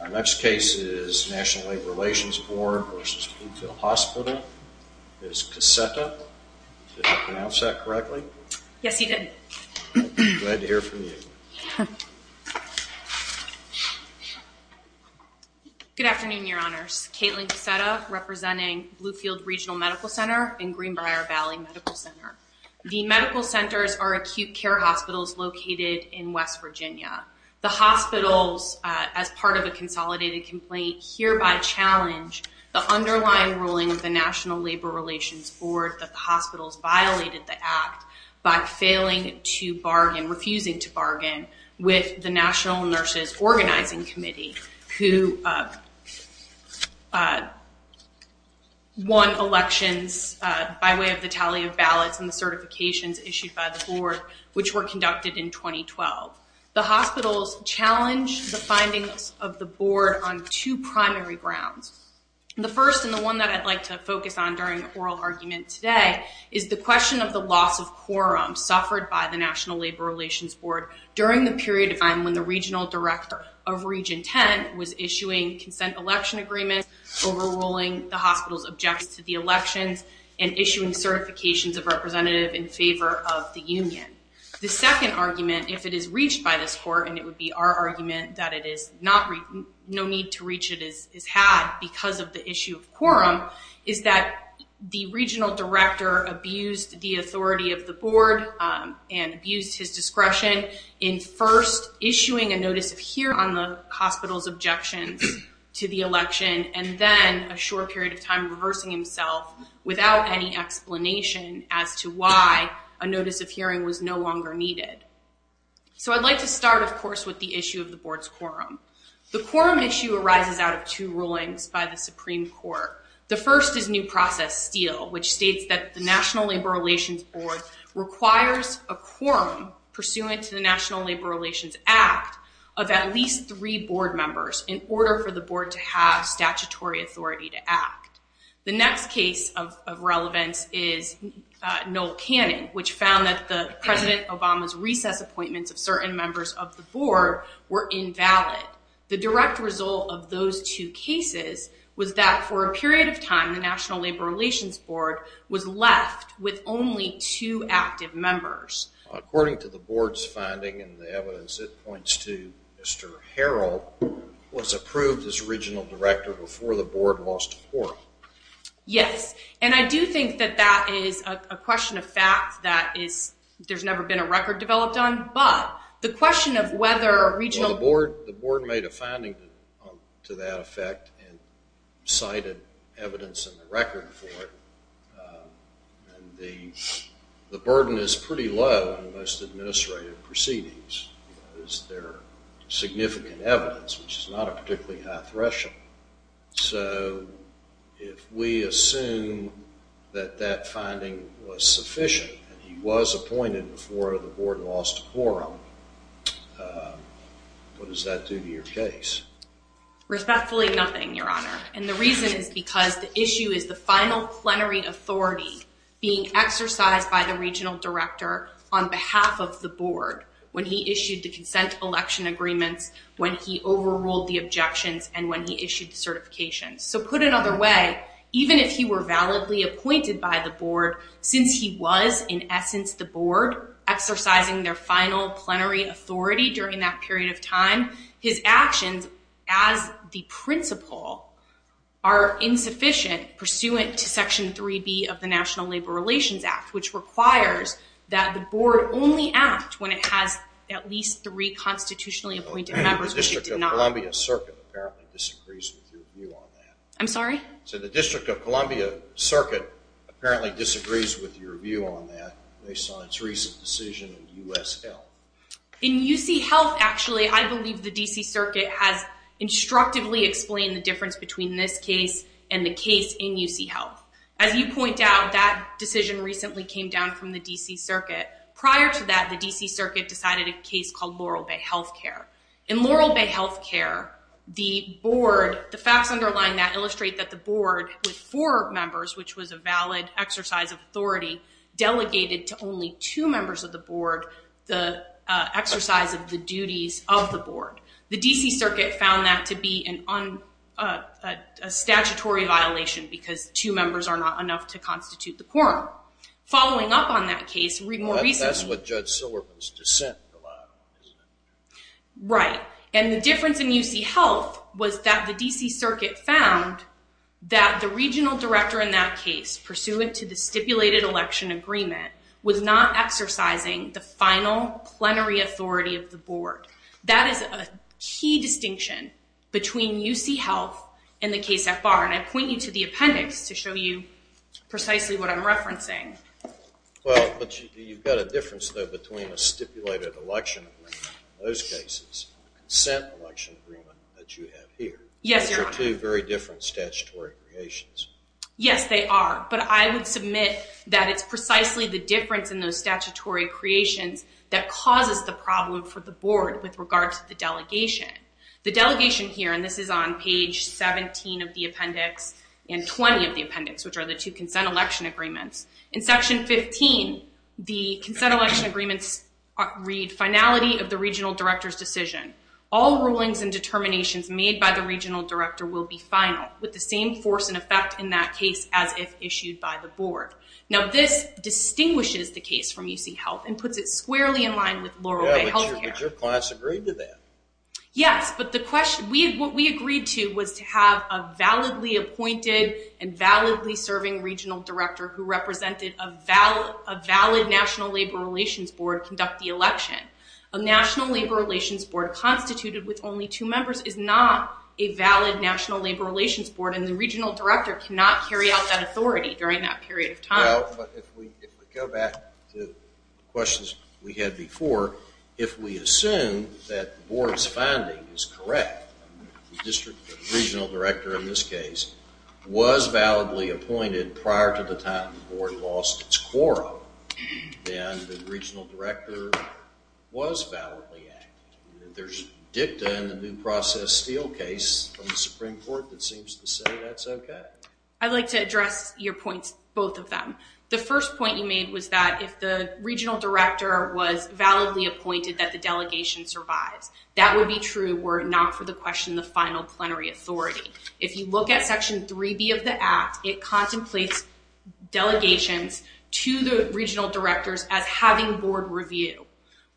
Our next case is National Labor Relations Board v. Bluefield Hospital. Ms. Cassetta, did I pronounce that correctly? Yes, you did. Glad to hear from you. Good afternoon, Your Honors. Katelyn Cassetta, representing Bluefield Regional Medical Center and Greenbrier Valley Medical Center. The medical centers are acute care hospitals located in West Virginia. The hospitals, as part of a consolidated complaint, hereby challenge the underlying ruling of the National Labor Relations Board that the hospitals violated the act by failing to bargain, refusing to bargain with the National Nurses Organizing Committee, who won elections by way of the tally of ballots and the certifications issued by the board, which were conducted in 2012. The hospitals challenge the findings of the board on two primary grounds. The first, and the one that I'd like to focus on during the oral argument today, is the question of the loss of quorum suffered by the National Labor Relations Board during the period of time when the regional director of Region 10 was issuing consent election agreements, overruling the hospital's objections to the elections, and issuing certifications of representative in favor of the union. The second argument, if it is reached by this court, and it would be our argument that no need to reach it is had because of the issue of quorum, is that the regional director abused the authority of the board and abused his discretion in first issuing a notice of hearing on the hospital's objections to the election, and then a short period of time reversing himself without any explanation as to why a notice of hearing was no longer needed. I'd like to start, of course, with the issue of the board's quorum. The quorum issue arises out of two rulings by the Supreme Court. The first is new process steel, which states that the National Labor Relations Board requires a quorum pursuant to the National Labor Relations Act of at least three board members in order for the board to have statutory authority to act. The next case of relevance is Noel Cannon, which found that President Obama's recess appointments of certain members of the board were invalid. The direct result of those two cases was that for a period of time, the National Labor Relations Board was left with only two active members. According to the board's finding and the evidence, it points to Mr. Harrell was approved as regional director before the board lost quorum. Yes, and I do think that that is a question of fact, that is, there's never been a record developed on, but the question of whether a regional board, the board made a finding to that effect and cited evidence in the record for it, and the burden is pretty low in most administrative proceedings. Is there significant evidence, which is not a particularly high threshold? So if we assume that that finding was sufficient and he was appointed before the board lost quorum, what does that do to your case? Respectfully, nothing, Your Honor, and the reason is because the issue is the final plenary authority being exercised by the regional director on behalf of the board when he issued the consent election agreements, when he overruled the objections, and when he issued the certifications. So put another way, even if he were validly appointed by the board, since he was in essence the board exercising their final plenary authority during that period of time, his actions as the principal are insufficient pursuant to Section 3B of the National Labor Relations Act, which requires that the board only act when it has at least three constitutionally appointed members, which it did not. The District of Columbia Circuit apparently disagrees with your view on that. I'm sorry? So the District of Columbia Circuit apparently disagrees with your view on that based on its recent decision in U.S. Health. In U.C. Health, actually, I believe the D.C. Circuit has instructively explained the difference between this case and the case in U.C. Health. As you point out, that decision recently came down from the D.C. Circuit. Prior to that, the D.C. Circuit decided a case called Laurel Bay Health Care. In Laurel Bay Health Care, the board, the facts underlying that illustrate that the board, with four members, which was a valid exercise of delegated to only two members of the board the exercise of the duties of the board. The D.C. Circuit found that to be a statutory violation because two members are not enough to constitute the quorum. Following up on that case more recently... That's what Judge Silverman's dissent relied on, isn't it? Right. And the difference in U.C. Health was that the D.C. Circuit found that the regional director in that case, pursuant to the stipulated election agreement, was not exercising the final plenary authority of the board. That is a key distinction between U.C. Health and the case at bar. And I point you to the appendix to show you precisely what I'm referencing. Well, but you've got a difference though between a stipulated election agreement in those cases and a consent election agreement that you have here. Yes. Those are two very different statutory creations. Yes, they are. But I would submit that it's precisely the difference in those statutory creations that causes the problem for the board with regard to the delegation. The delegation here, and this is on page 17 of the appendix and 20 of the appendix, which are the two consent election agreements. In section 15, the consent election agreements read, finality of the regional director's decision. All rulings and determinations made by the regional director will be final, with the same force and effect in that case as if issued by the board. Now, this distinguishes the case from U.C. Health and puts it squarely in line with Laurel Bay Health Care. Yeah, but your clients agreed to that. Yes, but what we agreed to was to have a validly appointed and validly serving regional director who represented a valid National Labor Relations Board conduct the election. A National Labor Relations Board constituted with only two members is not a valid National Labor Relations Board, and the regional director cannot carry out that authority during that period of time. Well, but if we go back to questions we had before, if we assume that the board's finding is correct, the district regional director in this case was validly appointed prior to the time the board lost its quorum, then the regional director was validly acting. There's dicta in the new process steel case from the Supreme Court that seems to say that's okay. I'd like to address your points, both of them. The first point you made was that if the regional director was validly appointed, that the delegation survives. That would be true were it not for the question of the final plenary authority. If you look at section 3B of the act, it contemplates delegations to the regional directors as having board review.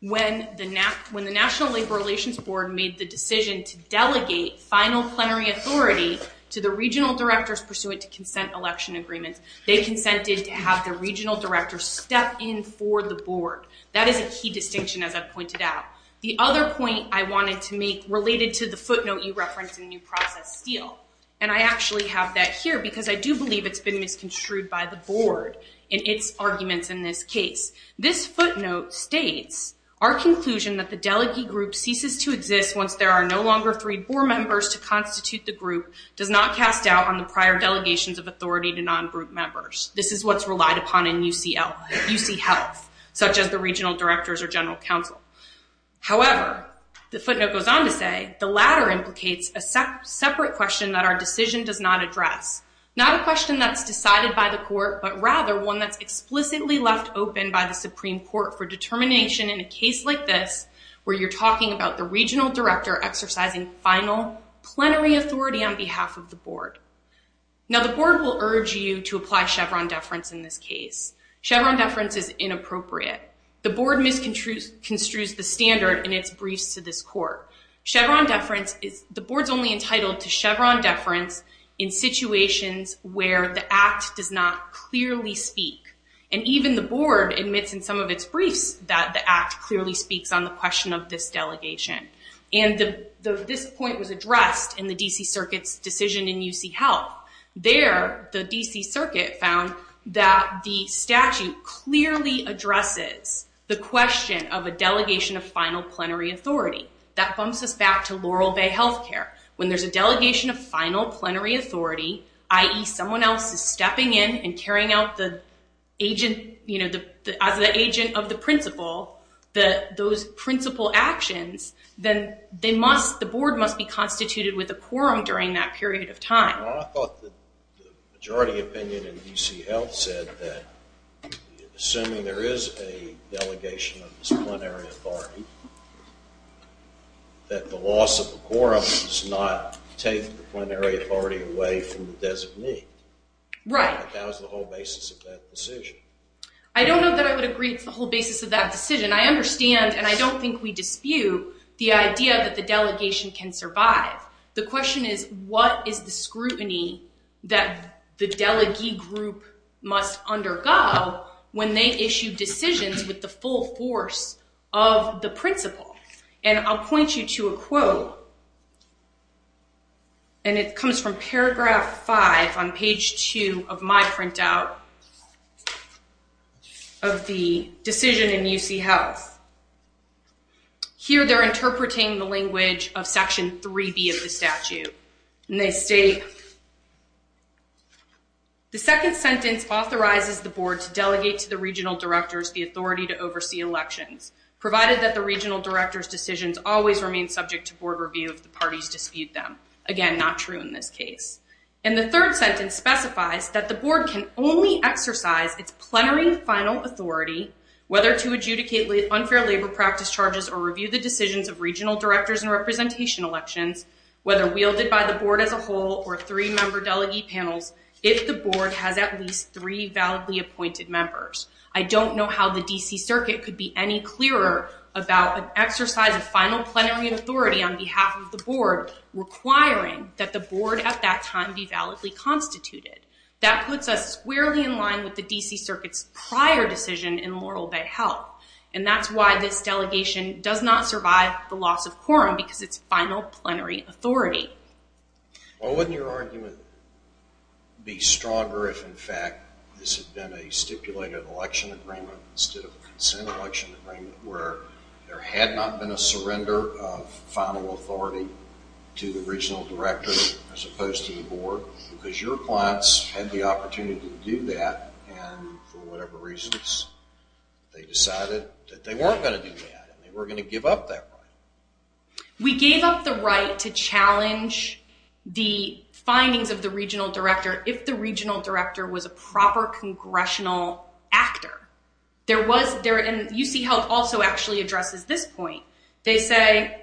When the National Labor Relations Board made the decision to delegate final plenary authority to the regional directors pursuant to consent election agreements, they consented to have the regional director step in for the board. That is a key distinction, as I've pointed out. The other point I wanted to make related to the footnote you referenced in the new process steel, and I actually have that here because I do believe it's been misconstrued by the board in its arguments in this case. This footnote states, our conclusion that the delegate group ceases to exist once there are no longer three board members to constitute the group does not cast doubt on the prior delegations of authority to non-group members. This is what's relied upon in UC health, such as the regional directors or general counsel. However, the latter implicates a separate question that our decision does not address. Not a question that's decided by the court, but rather one that's explicitly left open by the Supreme Court for determination in a case like this, where you're talking about the regional director exercising final plenary authority on behalf of the board. Now, the board will urge you to apply Chevron deference in this case. Chevron deference is inappropriate. The board misconstrues the standard in its briefs to this court. Chevron deference is the board's only entitled to Chevron deference in situations where the act does not clearly speak. And even the board admits in some of its briefs that the act clearly speaks on the question of this delegation. And this point was addressed in the DC circuit's decision in UC health. There, the DC circuit found that the statute clearly addresses the question of a delegation of final plenary authority. That bumps us back to Laurel Bay Health Care. When there's a delegation of final plenary authority, i.e. someone else is stepping in and carrying out the agent, you know, as the agent of the principal, those principal actions, then they must, the board must be constituted with a quorum during that period of time. If there is a delegation of disciplinary authority, that the loss of the quorum does not take the plenary authority away from the designee. Right. That was the whole basis of that decision. I don't know that I would agree with the whole basis of that decision. I understand and I don't think we dispute the idea that the delegation can survive. The question is, what is the scrutiny that the delegee group must undergo when they issue decisions with the full force of the principal? And I'll point you to a quote, and it comes from paragraph five on page two of my printout of the decision in UC health. Here, they're interpreting the language of section 3b of the statute and they state, the second sentence authorizes the board to delegate to the regional directors the authority to oversee elections, provided that the regional directors decisions always remain subject to board review if the parties dispute them. Again, not true in this case. And the third sentence specifies that the board can only exercise its plenary final authority whether to adjudicate unfair labor practice charges or review the decisions of regional directors and representation elections, whether wielded by the board as a whole or three member delegate panels, if the board has at least three validly appointed members. I don't know how the DC circuit could be any clearer about an exercise of final plenary authority on behalf of the board requiring that the board at that time be validly constituted. That puts us squarely in line with the DC circuit's prior decision in Laurel Bay health and that's why this delegation does not survive the loss of quorum because it's final plenary authority. Well, wouldn't your argument be stronger if in fact this had been a stipulated election agreement instead of a consent election agreement where there had not been a surrender of final authority to the regional directors as opposed to the board because your clients had the opportunity to do that and for whatever reasons they decided that they weren't going to do that and they were going to give up that right? We gave up the right to challenge the findings of the regional director if the regional director was a proper congressional actor. There was there and UC Health also actually addresses this point. They say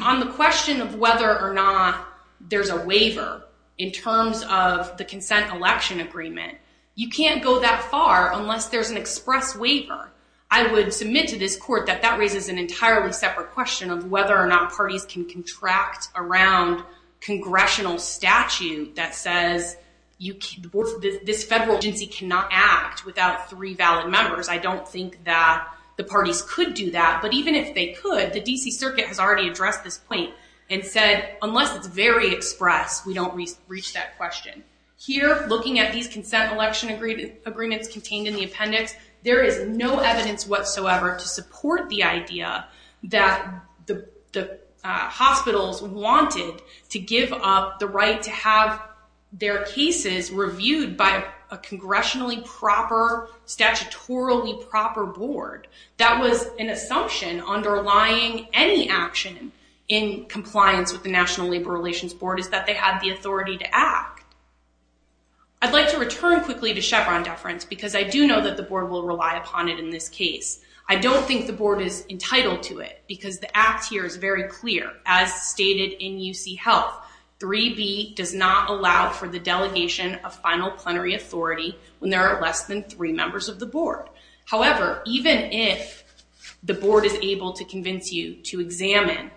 on the question of whether or not there's a waiver in terms of the consent election agreement, you can't go that far unless there's an express waiver. I would submit to this court that that raises an entirely separate question of whether or not parties can contract around congressional statute that says this federal agency cannot act without three valid members. I don't think that the parties could do that, but even if they could, the DC circuit has already addressed this point and said, unless it's very express, we don't reach that question. Here, looking at these consent election agreements contained in the appendix, there is no evidence whatsoever to support the idea that the hospitals wanted to give up the proper board. That was an assumption underlying any action in compliance with the National Labor Relations Board is that they had the authority to act. I'd like to return quickly to Chevron deference because I do know that the board will rely upon it in this case. I don't think the board is entitled to it because the act here is very clear. As stated in UC Health, 3B does not allow for the delegation of final plenary authority when there are less than three members of the board. However, even if the board is able to convince you to examine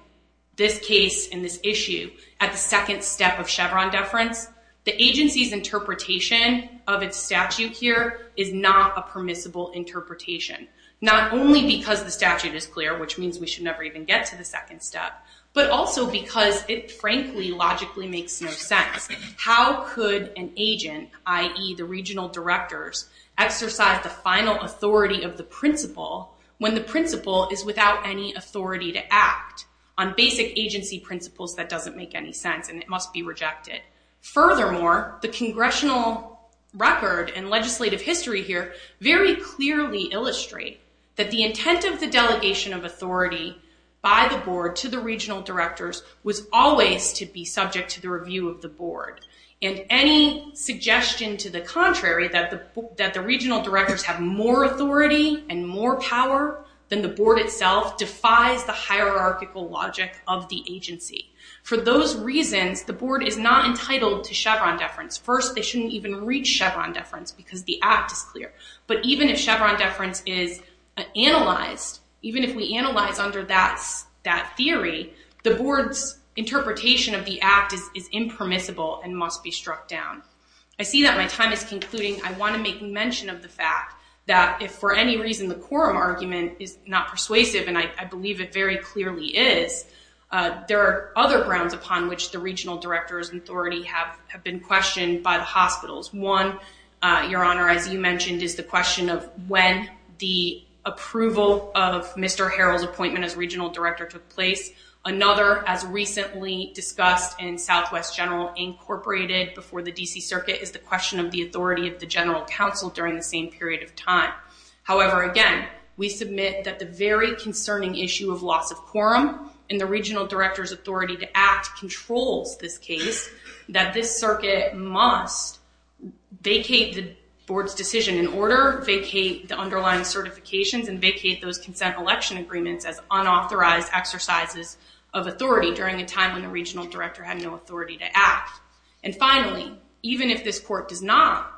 this case and this issue at the second step of Chevron deference, the agency's interpretation of its statute here is not a permissible interpretation. Not only because the statute is clear, which means we should never even get to the second step, but also because it frankly logically makes no sense. How could an agent, i.e. the regional directors, exercise the final authority of the principal when the principal is without any authority to act on basic agency principles? That doesn't make any sense and it must be rejected. Furthermore, the congressional record and legislative history here very clearly illustrate that the intent of the delegation of authority by the board to the regional directors was always to be subject to the review of the board. Any suggestion to the contrary that the regional directors have more authority and more power than the board itself defies the hierarchical logic of the agency. For those reasons, the board is not entitled to Chevron deference. First, they is analyzed. Even if we analyze under that theory, the board's interpretation of the act is impermissible and must be struck down. I see that my time is concluding. I want to make mention of the fact that if for any reason the quorum argument is not persuasive, and I believe it very clearly is, there are other grounds upon which the regional directors' authority have been questioned by the approval of Mr. Harrell's appointment as regional director took place. Another, as recently discussed in Southwest General Incorporated before the D.C. Circuit, is the question of the authority of the general counsel during the same period of time. However, again, we submit that the very concerning issue of loss of quorum in the regional director's authority to act controls this case, that this vacate those consent election agreements as unauthorized exercises of authority during a time when the regional director had no authority to act. Finally, even if this court does not,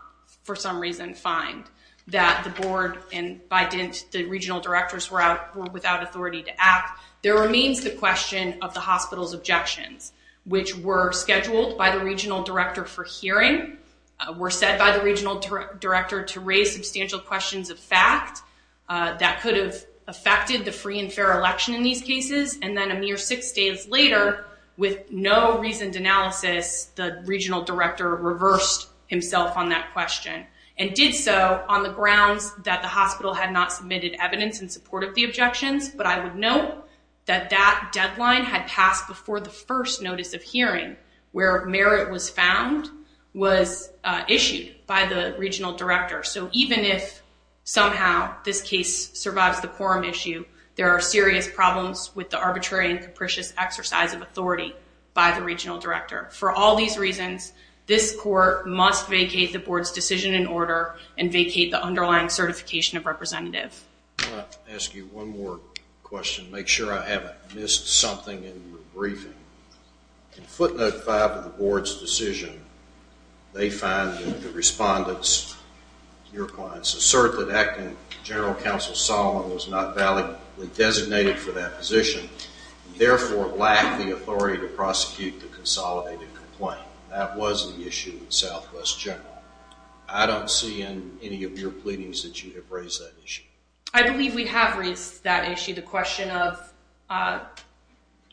for some reason, find that the board and, by dint, the regional directors were out without authority to act, there remains the question of the hospital's objections, which were scheduled by the regional director for hearing, were said by the regional director to raise substantial questions of fact that could have affected the free and fair election in these cases, and then a mere six days later, with no reasoned analysis, the regional director reversed himself on that question, and did so on the grounds that the hospital had not submitted evidence in support of the objections, but I would note that that deadline had passed before the first notice of somehow this case survives the quorum issue. There are serious problems with the arbitrary and capricious exercise of authority by the regional director. For all these reasons, this court must vacate the board's decision in order and vacate the underlying certification of representative. I'm going to ask you one more question, make sure I haven't missed something in your briefing. In footnote five of the board's decision, they find that the respondents, your clients, assert that acting general counsel Solomon was not validly designated for that position, and therefore lacked the authority to prosecute the consolidated complaint. That was the issue with Southwest General. I don't see in any of your pleadings that you have raised that issue. I believe we have raised that issue, the question of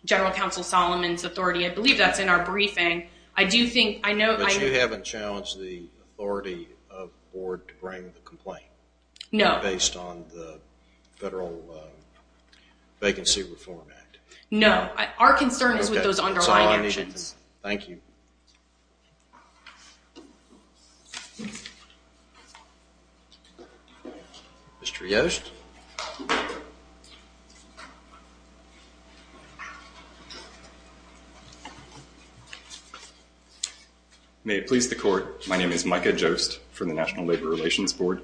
general counsel Solomon's authority, I believe that's in our briefing. I do think, I know, but you haven't challenged the authority of the board to bring the complaint. No. Based on the Federal Vacancy Reform Act. No. Our concern is with those underlying actions. Thank you. Mr. Yost. May it please the court, my name is Micah Yost from the National Labor Relations Board.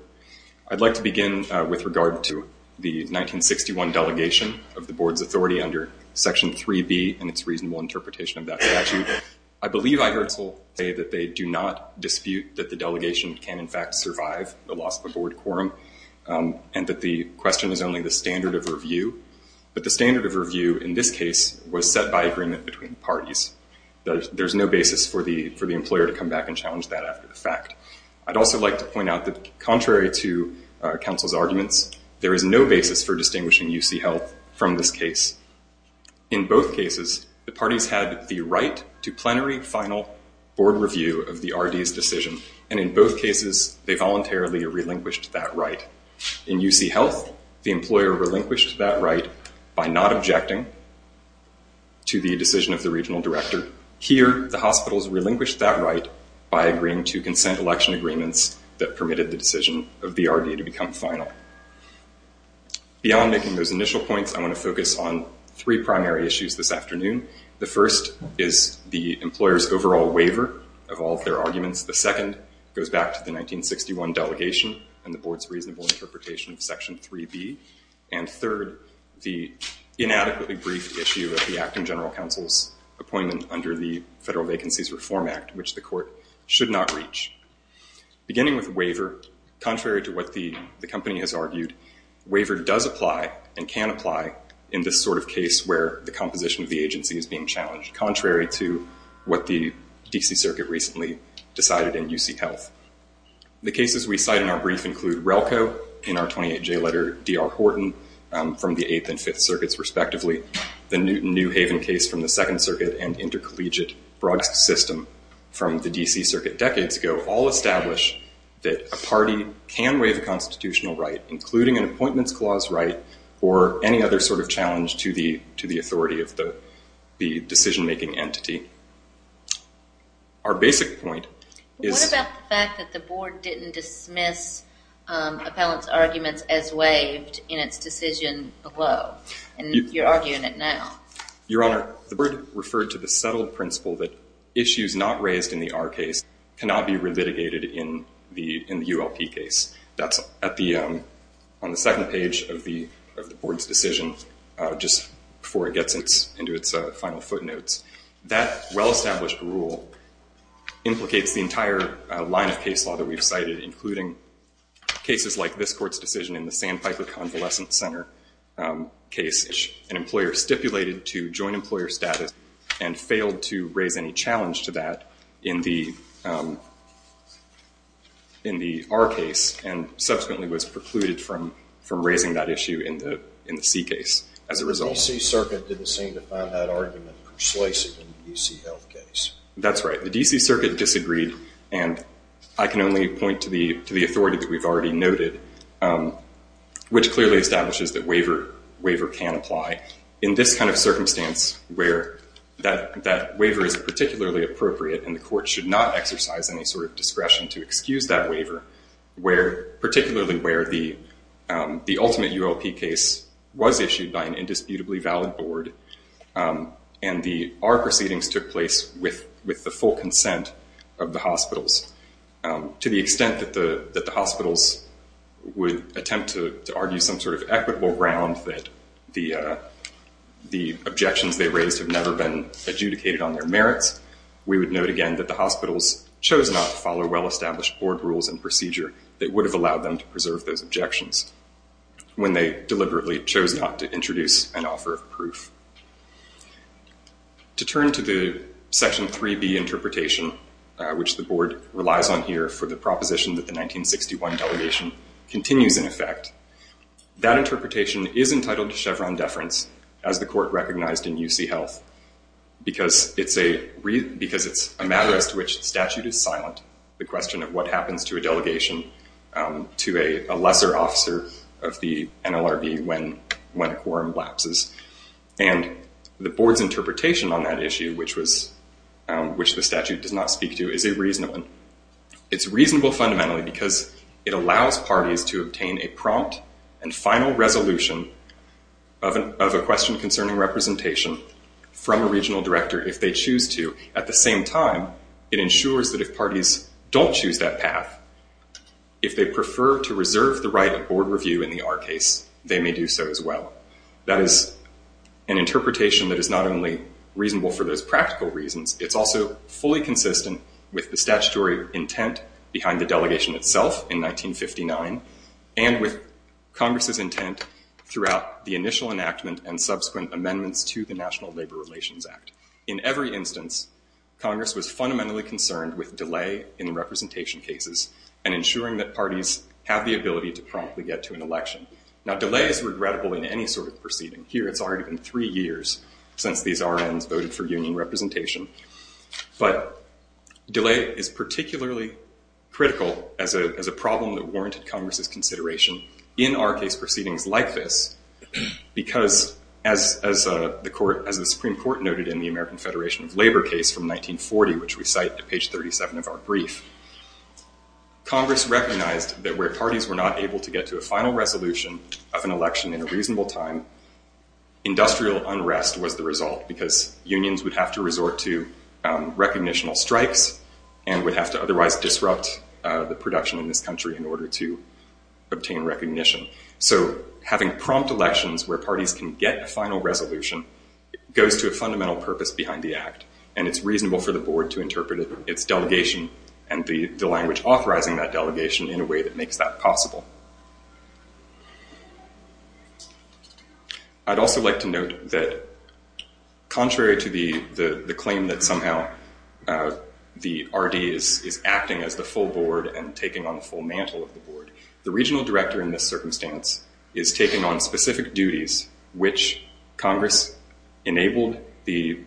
I'd like to begin with regard to the 1961 delegation of the board's authority under section 3B and its reasonable interpretation of that statute. I believe I heard Sol say that they do not dispute that the delegation can in fact survive the loss of a board quorum, and that the question is only the standard of review. But the standard of review in this case was set by agreement between parties. There's no basis for the employer to come back and challenge that after the fact. I'd also like to point out that contrary to counsel's arguments, there is no basis for distinguishing UC Health from this case. In both cases, the parties had the right to plenary final board review of the RD's decision. And in both cases, they voluntarily relinquished that right. In UC Health, the employer relinquished that right by not objecting to the decision of the regional director. Here, the hospitals relinquished that right by agreeing to consent election agreements that permitted the decision of the RD to become final. Beyond making those initial points, I want to focus on three primary issues this afternoon. The first is the employer's overall waiver of all of their arguments. The second goes back to the 1961 delegation and the board's reasonable interpretation of section 3B. And third, the inadequately briefed issue of the acting general counsel's appointment under the Federal Vacancies Reform Act, which the court should not reach. Beginning with waiver, contrary to what the company has argued, waiver does apply and can apply in this sort of case where the composition of the agency is being challenged, contrary to what the D.C. Circuit recently decided in UC Health. The cases we cite in our brief include RELCO in our 28-J letter, D.R. Horton from the Eighth and Fifth Circuits respectively, the Newton New Haven case from the Second Circuit, and intercollegiate Brogst's system from the D.C. Circuit decades ago all establish that a party can waive a or any other sort of challenge to the authority of the decision-making entity. Our basic point is... What about the fact that the board didn't dismiss appellant's arguments as waived in its decision below and you're arguing it now? Your Honor, the board referred to the subtle principle that issues not raised in the R case cannot be dismissed. That well-established rule implicates the entire line of case law that we've cited, including cases like this court's decision in the Sandpiper Convalescent Center case. An employer stipulated to joint employer status and failed to raise any challenge to that in the R case and subsequently was precluded from raising that issue in the C case as a result. The D.C. Circuit didn't seem to find that argument persuasive in the D.C. Health case. That's right. The D.C. Circuit disagreed and I can only point to the authority that we've already noted, which clearly establishes that waiver can apply. In this kind of circumstance where that waiver is particularly appropriate and the court should not exercise any sort of discretion to excuse that waiver, particularly where the ultimate ULP case was issued by an indisputably valid board and the R proceedings took place with the full consent of the hospitals, to the extent that the hospitals would attempt to argue some sort of equitable ground that the objections they raised have never been adjudicated on their merits, we would note again that the hospitals chose not to follow well-established board rules and procedure that would have allowed them to preserve those objections when they deliberately chose not to introduce an offer of proof. To turn to the Section 3B interpretation, which the board relies on here for the proposition that the 1961 delegation continues in effect, that interpretation is entitled to Chevron deference as the court recognized in U.C. Health because it's a matter as to which statute is silent. The question of what happens to a delegation to a lesser officer of the NLRB when a quorum lapses and the board's interpretation on that issue, which the statute does not speak to, is a reasonable one. It's reasonable fundamentally because it allows of a question concerning representation from a regional director if they choose to. At the same time, it ensures that if parties don't choose that path, if they prefer to reserve the right of board review in the R case, they may do so as well. That is an interpretation that is not only reasonable for those practical reasons, it's also fully consistent with the statutory intent behind the delegation itself in 1959 and with Congress's intent throughout the initial enactment and subsequent amendments to the National Labor Relations Act. In every instance, Congress was fundamentally concerned with delay in representation cases and ensuring that parties have the ability to promptly get to an election. Now, delay is regrettable in any sort of proceeding. Here, it's already been three years since these RNs voted for union representation, but delay is as a problem that warranted Congress's consideration in R case proceedings like this, because as the Supreme Court noted in the American Federation of Labor case from 1940, which we cite to page 37 of our brief, Congress recognized that where parties were not able to get to a final resolution of an election in a reasonable time, industrial unrest was the result because unions would have to resort to recognitional strikes and would have to otherwise disrupt the production in this country in order to obtain recognition. Having prompt elections where parties can get a final resolution goes to a fundamental purpose behind the act, and it's reasonable for the board to interpret its delegation and the language authorizing that delegation in a way that makes that possible. I'd also like to note that contrary to the claim that somehow the RD is acting as the full board and taking on the full mantle of the board, the regional director in this circumstance is taking on specific duties which Congress enabled the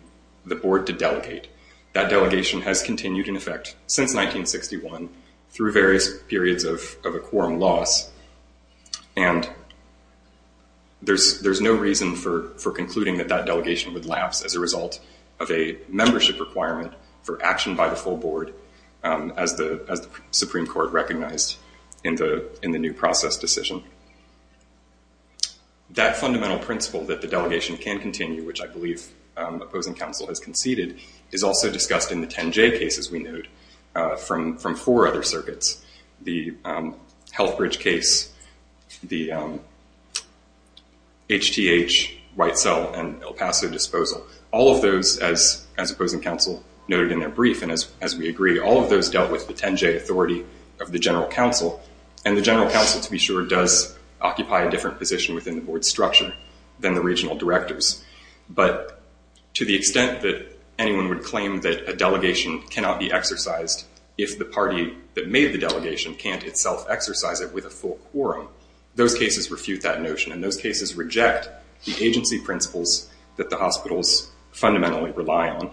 board to delegate. That delegation has continued in effect since 1961 through various periods of a quorum loss, and there's no reason for concluding that that delegation would lapse as a result of a membership requirement for action by the full board as the Supreme Court recognized in the new process decision. That fundamental principle that the delegation can continue, which I believe opposing counsel has conceded, is also discussed in the 10-J cases we Healthbridge case, the HTH, White Cell, and El Paso disposal. All of those, as opposing counsel noted in their brief, and as we agree, all of those dealt with the 10-J authority of the general counsel, and the general counsel, to be sure, does occupy a different position within the board's structure than the regional directors. But to the extent that anyone would claim that a delegation cannot be exercised if the party that made the delegation can't itself exercise it with a full quorum, those cases refute that notion, and those cases reject the agency principles that the hospitals fundamentally rely on.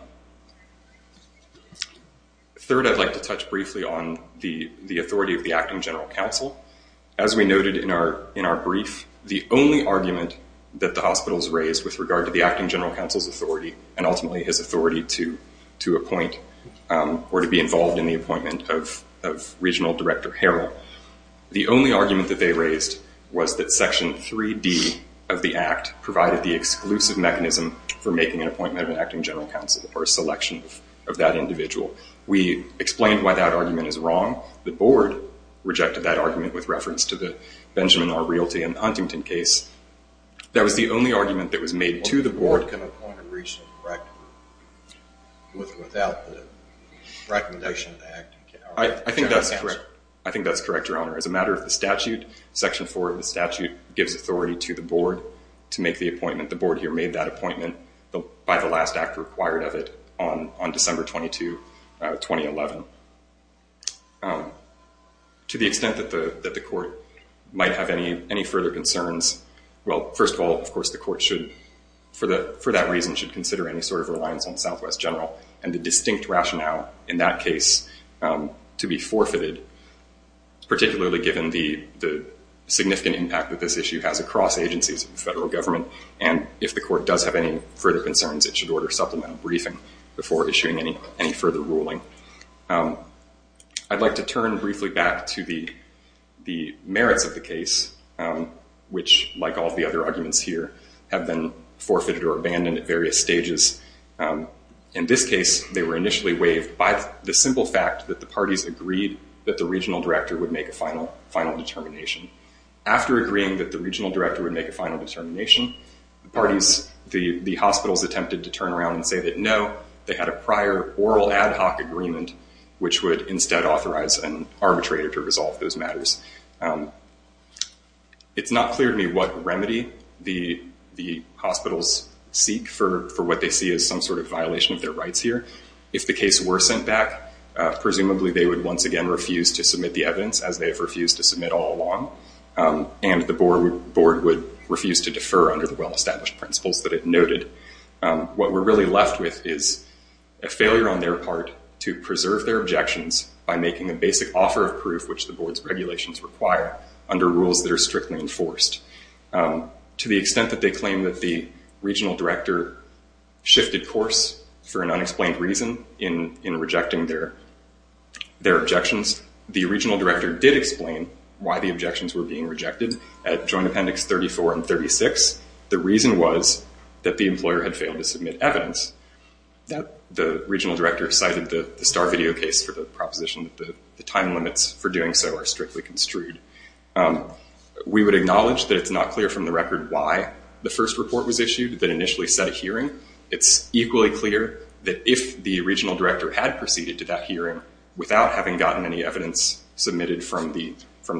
Third, I'd like to touch briefly on the authority of the acting general counsel. As we noted in our brief, the only argument that the hospitals raised with regard to the acting general counsel's authority, and ultimately his authority to appoint or to be involved in the appointment of regional director Harrell, the only argument that they raised was that section 3D of the act provided the exclusive mechanism for making an appointment of an acting general counsel or a selection of that individual. We explained why that argument is wrong. The board rejected that argument with reference to the Benjamin R. Realty and Huntington case. That was the only argument that was made to the board. The board can appoint a regional director without the recommendation of the acting general counsel. I think that's correct, your honor. As a matter of the statute, section 4 of the statute gives authority to the board to make the appointment. The board here made that appointment by the last act required of it on December 22, 2011. To the extent that the court might have any further concerns, well, first of all, of course, the court should, for that reason, should consider any sort of reliance on Southwest General and the distinct rationale in that case to be forfeited, particularly given the significant impact that this issue has across agencies of the federal government. If the court does have any further concerns, it should order supplemental briefing before issuing any further ruling. I'd like to turn briefly back to the merits of the case. Which, like all the other arguments here, have been forfeited or abandoned at various stages. In this case, they were initially waived by the simple fact that the parties agreed that the regional director would make a final determination. After agreeing that the regional director would make a final determination, the hospitals attempted to turn around and say that, no, they had a prior oral ad hoc agreement which would instead authorize an arbitrator to resolve those issues. It's not clear to me what remedy the hospitals seek for what they see as some sort of violation of their rights here. If the case were sent back, presumably, they would once again refuse to submit the evidence, as they have refused to submit all along, and the board would refuse to defer under the well-established principles that it noted. What we're really left with is a failure on their part to preserve their objections by making a basic offer of proof which the board's regulations require under rules that are strictly enforced. To the extent that they claim that the regional director shifted course for an unexplained reason in rejecting their objections, the regional director did explain why the objections were being rejected at Joint Appendix 34 and 36. The reason was that the employer had failed to submit evidence. The regional director cited the Starr video case for the proposition that the time limits for doing so are strictly construed. We would acknowledge that it's not clear from the record why the first report was issued that initially set a hearing. It's equally clear that if the regional director had proceeded to that hearing without having gotten any evidence submitted from the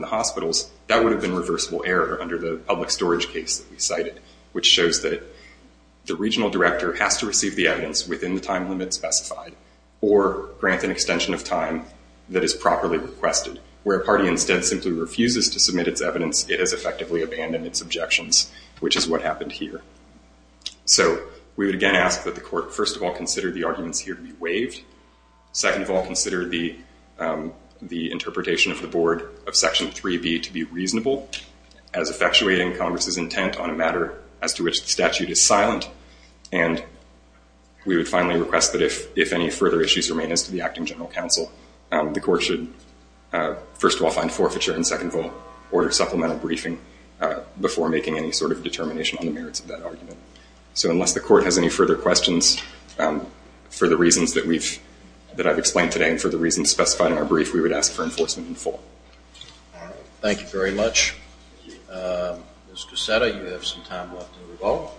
hospitals, that would have been reversible error under the public storage case that we cited, which shows that the regional director has to receive the evidence within the time limit specified or grant an extension of time that is properly requested. Where a party instead simply refuses to submit its evidence, it has effectively abandoned its objections, which is what happened here. So we would again ask that the court first of all consider the arguments here to be waived, second of all consider the interpretation of the board of Section 3b to be reasonable as effectuating Congress's intent on a matter as to which the statute is silent, and we would finally request that if any further issues remain as to the acting general counsel, the court should first of all find forfeiture and second of all order supplemental briefing before making any sort of determination on the merits of that argument. So unless the court has any further questions for the reasons that I've explained today and for the reasons specified in our brief, we would ask for enforcement in full. All right, thank you very much. Mr. Seta, you have some time left to rebuttal.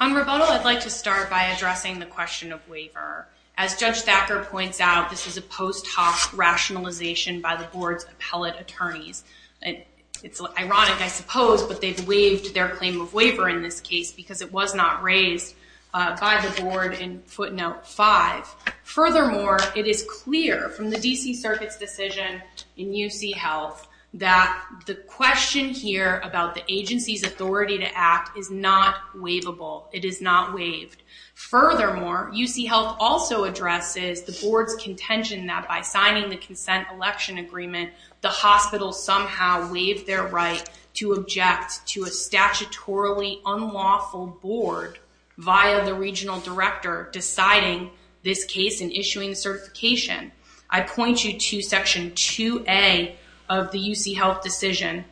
On rebuttal, I'd like to start by addressing the question of waiver. As Judge Thacker points out, this is a post hoc rationalization by the board's appellate attorneys. It's ironic, I suppose, but they've waived their claim of waiver in this case because it was not raised by the board in footnote 5. Furthermore, it is clear from the D.C. Circuit's decision in UC Health that the question here about the agency's authority to act is not waivable. It is not waived. Furthermore, UC Health also addresses the board's contention that by signing the consent election agreement, the hospital somehow waived their right to object to a statutorily unlawful board via the regional director deciding this case and issuing certification. I point you to section 2a of the UC Health decision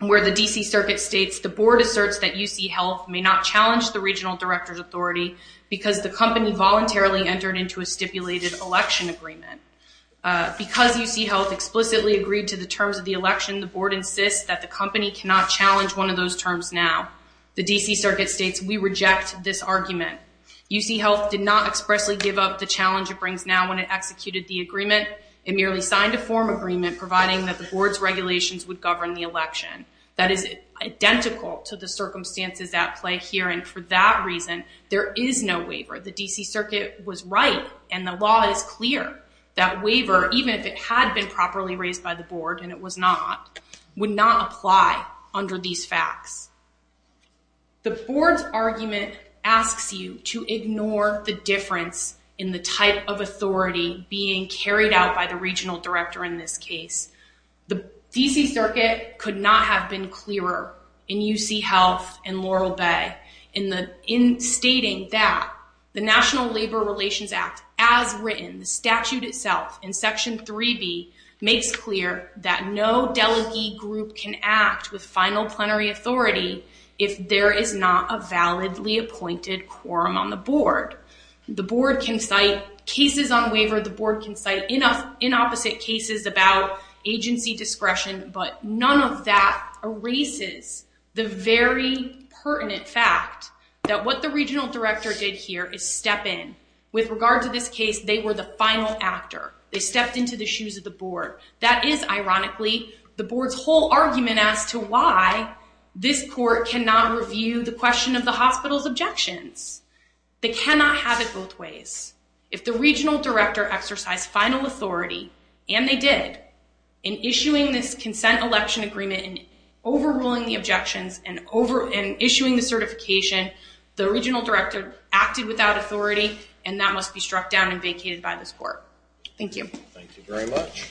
where the D.C. Circuit states the board asserts that UC Health may not challenge the regional director's authority because the company voluntarily entered into stipulated election agreement. Because UC Health explicitly agreed to the terms of the election, the board insists that the company cannot challenge one of those terms now. The D.C. Circuit states we reject this argument. UC Health did not expressly give up the challenge it brings now when it executed the agreement. It merely signed a form agreement providing that the board's regulations would govern the election. That is identical to the circumstances at play here. For that reason, there is no waiver. The D.C. Circuit was right and the law is clear that waiver, even if it had been properly raised by the board and it was not, would not apply under these facts. The board's argument asks you to ignore the difference in the type of authority being carried out by the regional director in this case. The D.C. Circuit could not have been clearer in UC Health and Laurel Bay in stating that the National Labor Relations Act, as written, the statute itself in Section 3B, makes clear that no delegee group can act with final plenary authority if there is not a validly appointed quorum on the board. The board can cite cases on the very pertinent fact that what the regional director did here is step in. With regard to this case, they were the final actor. They stepped into the shoes of the board. That is, ironically, the board's whole argument as to why this court cannot review the question of the hospital's objections. They cannot have it both ways. If the regional director exercised final authority, and they did, in issuing this consent election agreement and overruling the objections and issuing the certification, the regional director acted without authority, and that must be struck down and vacated by this court. Thank you. Thank you very much.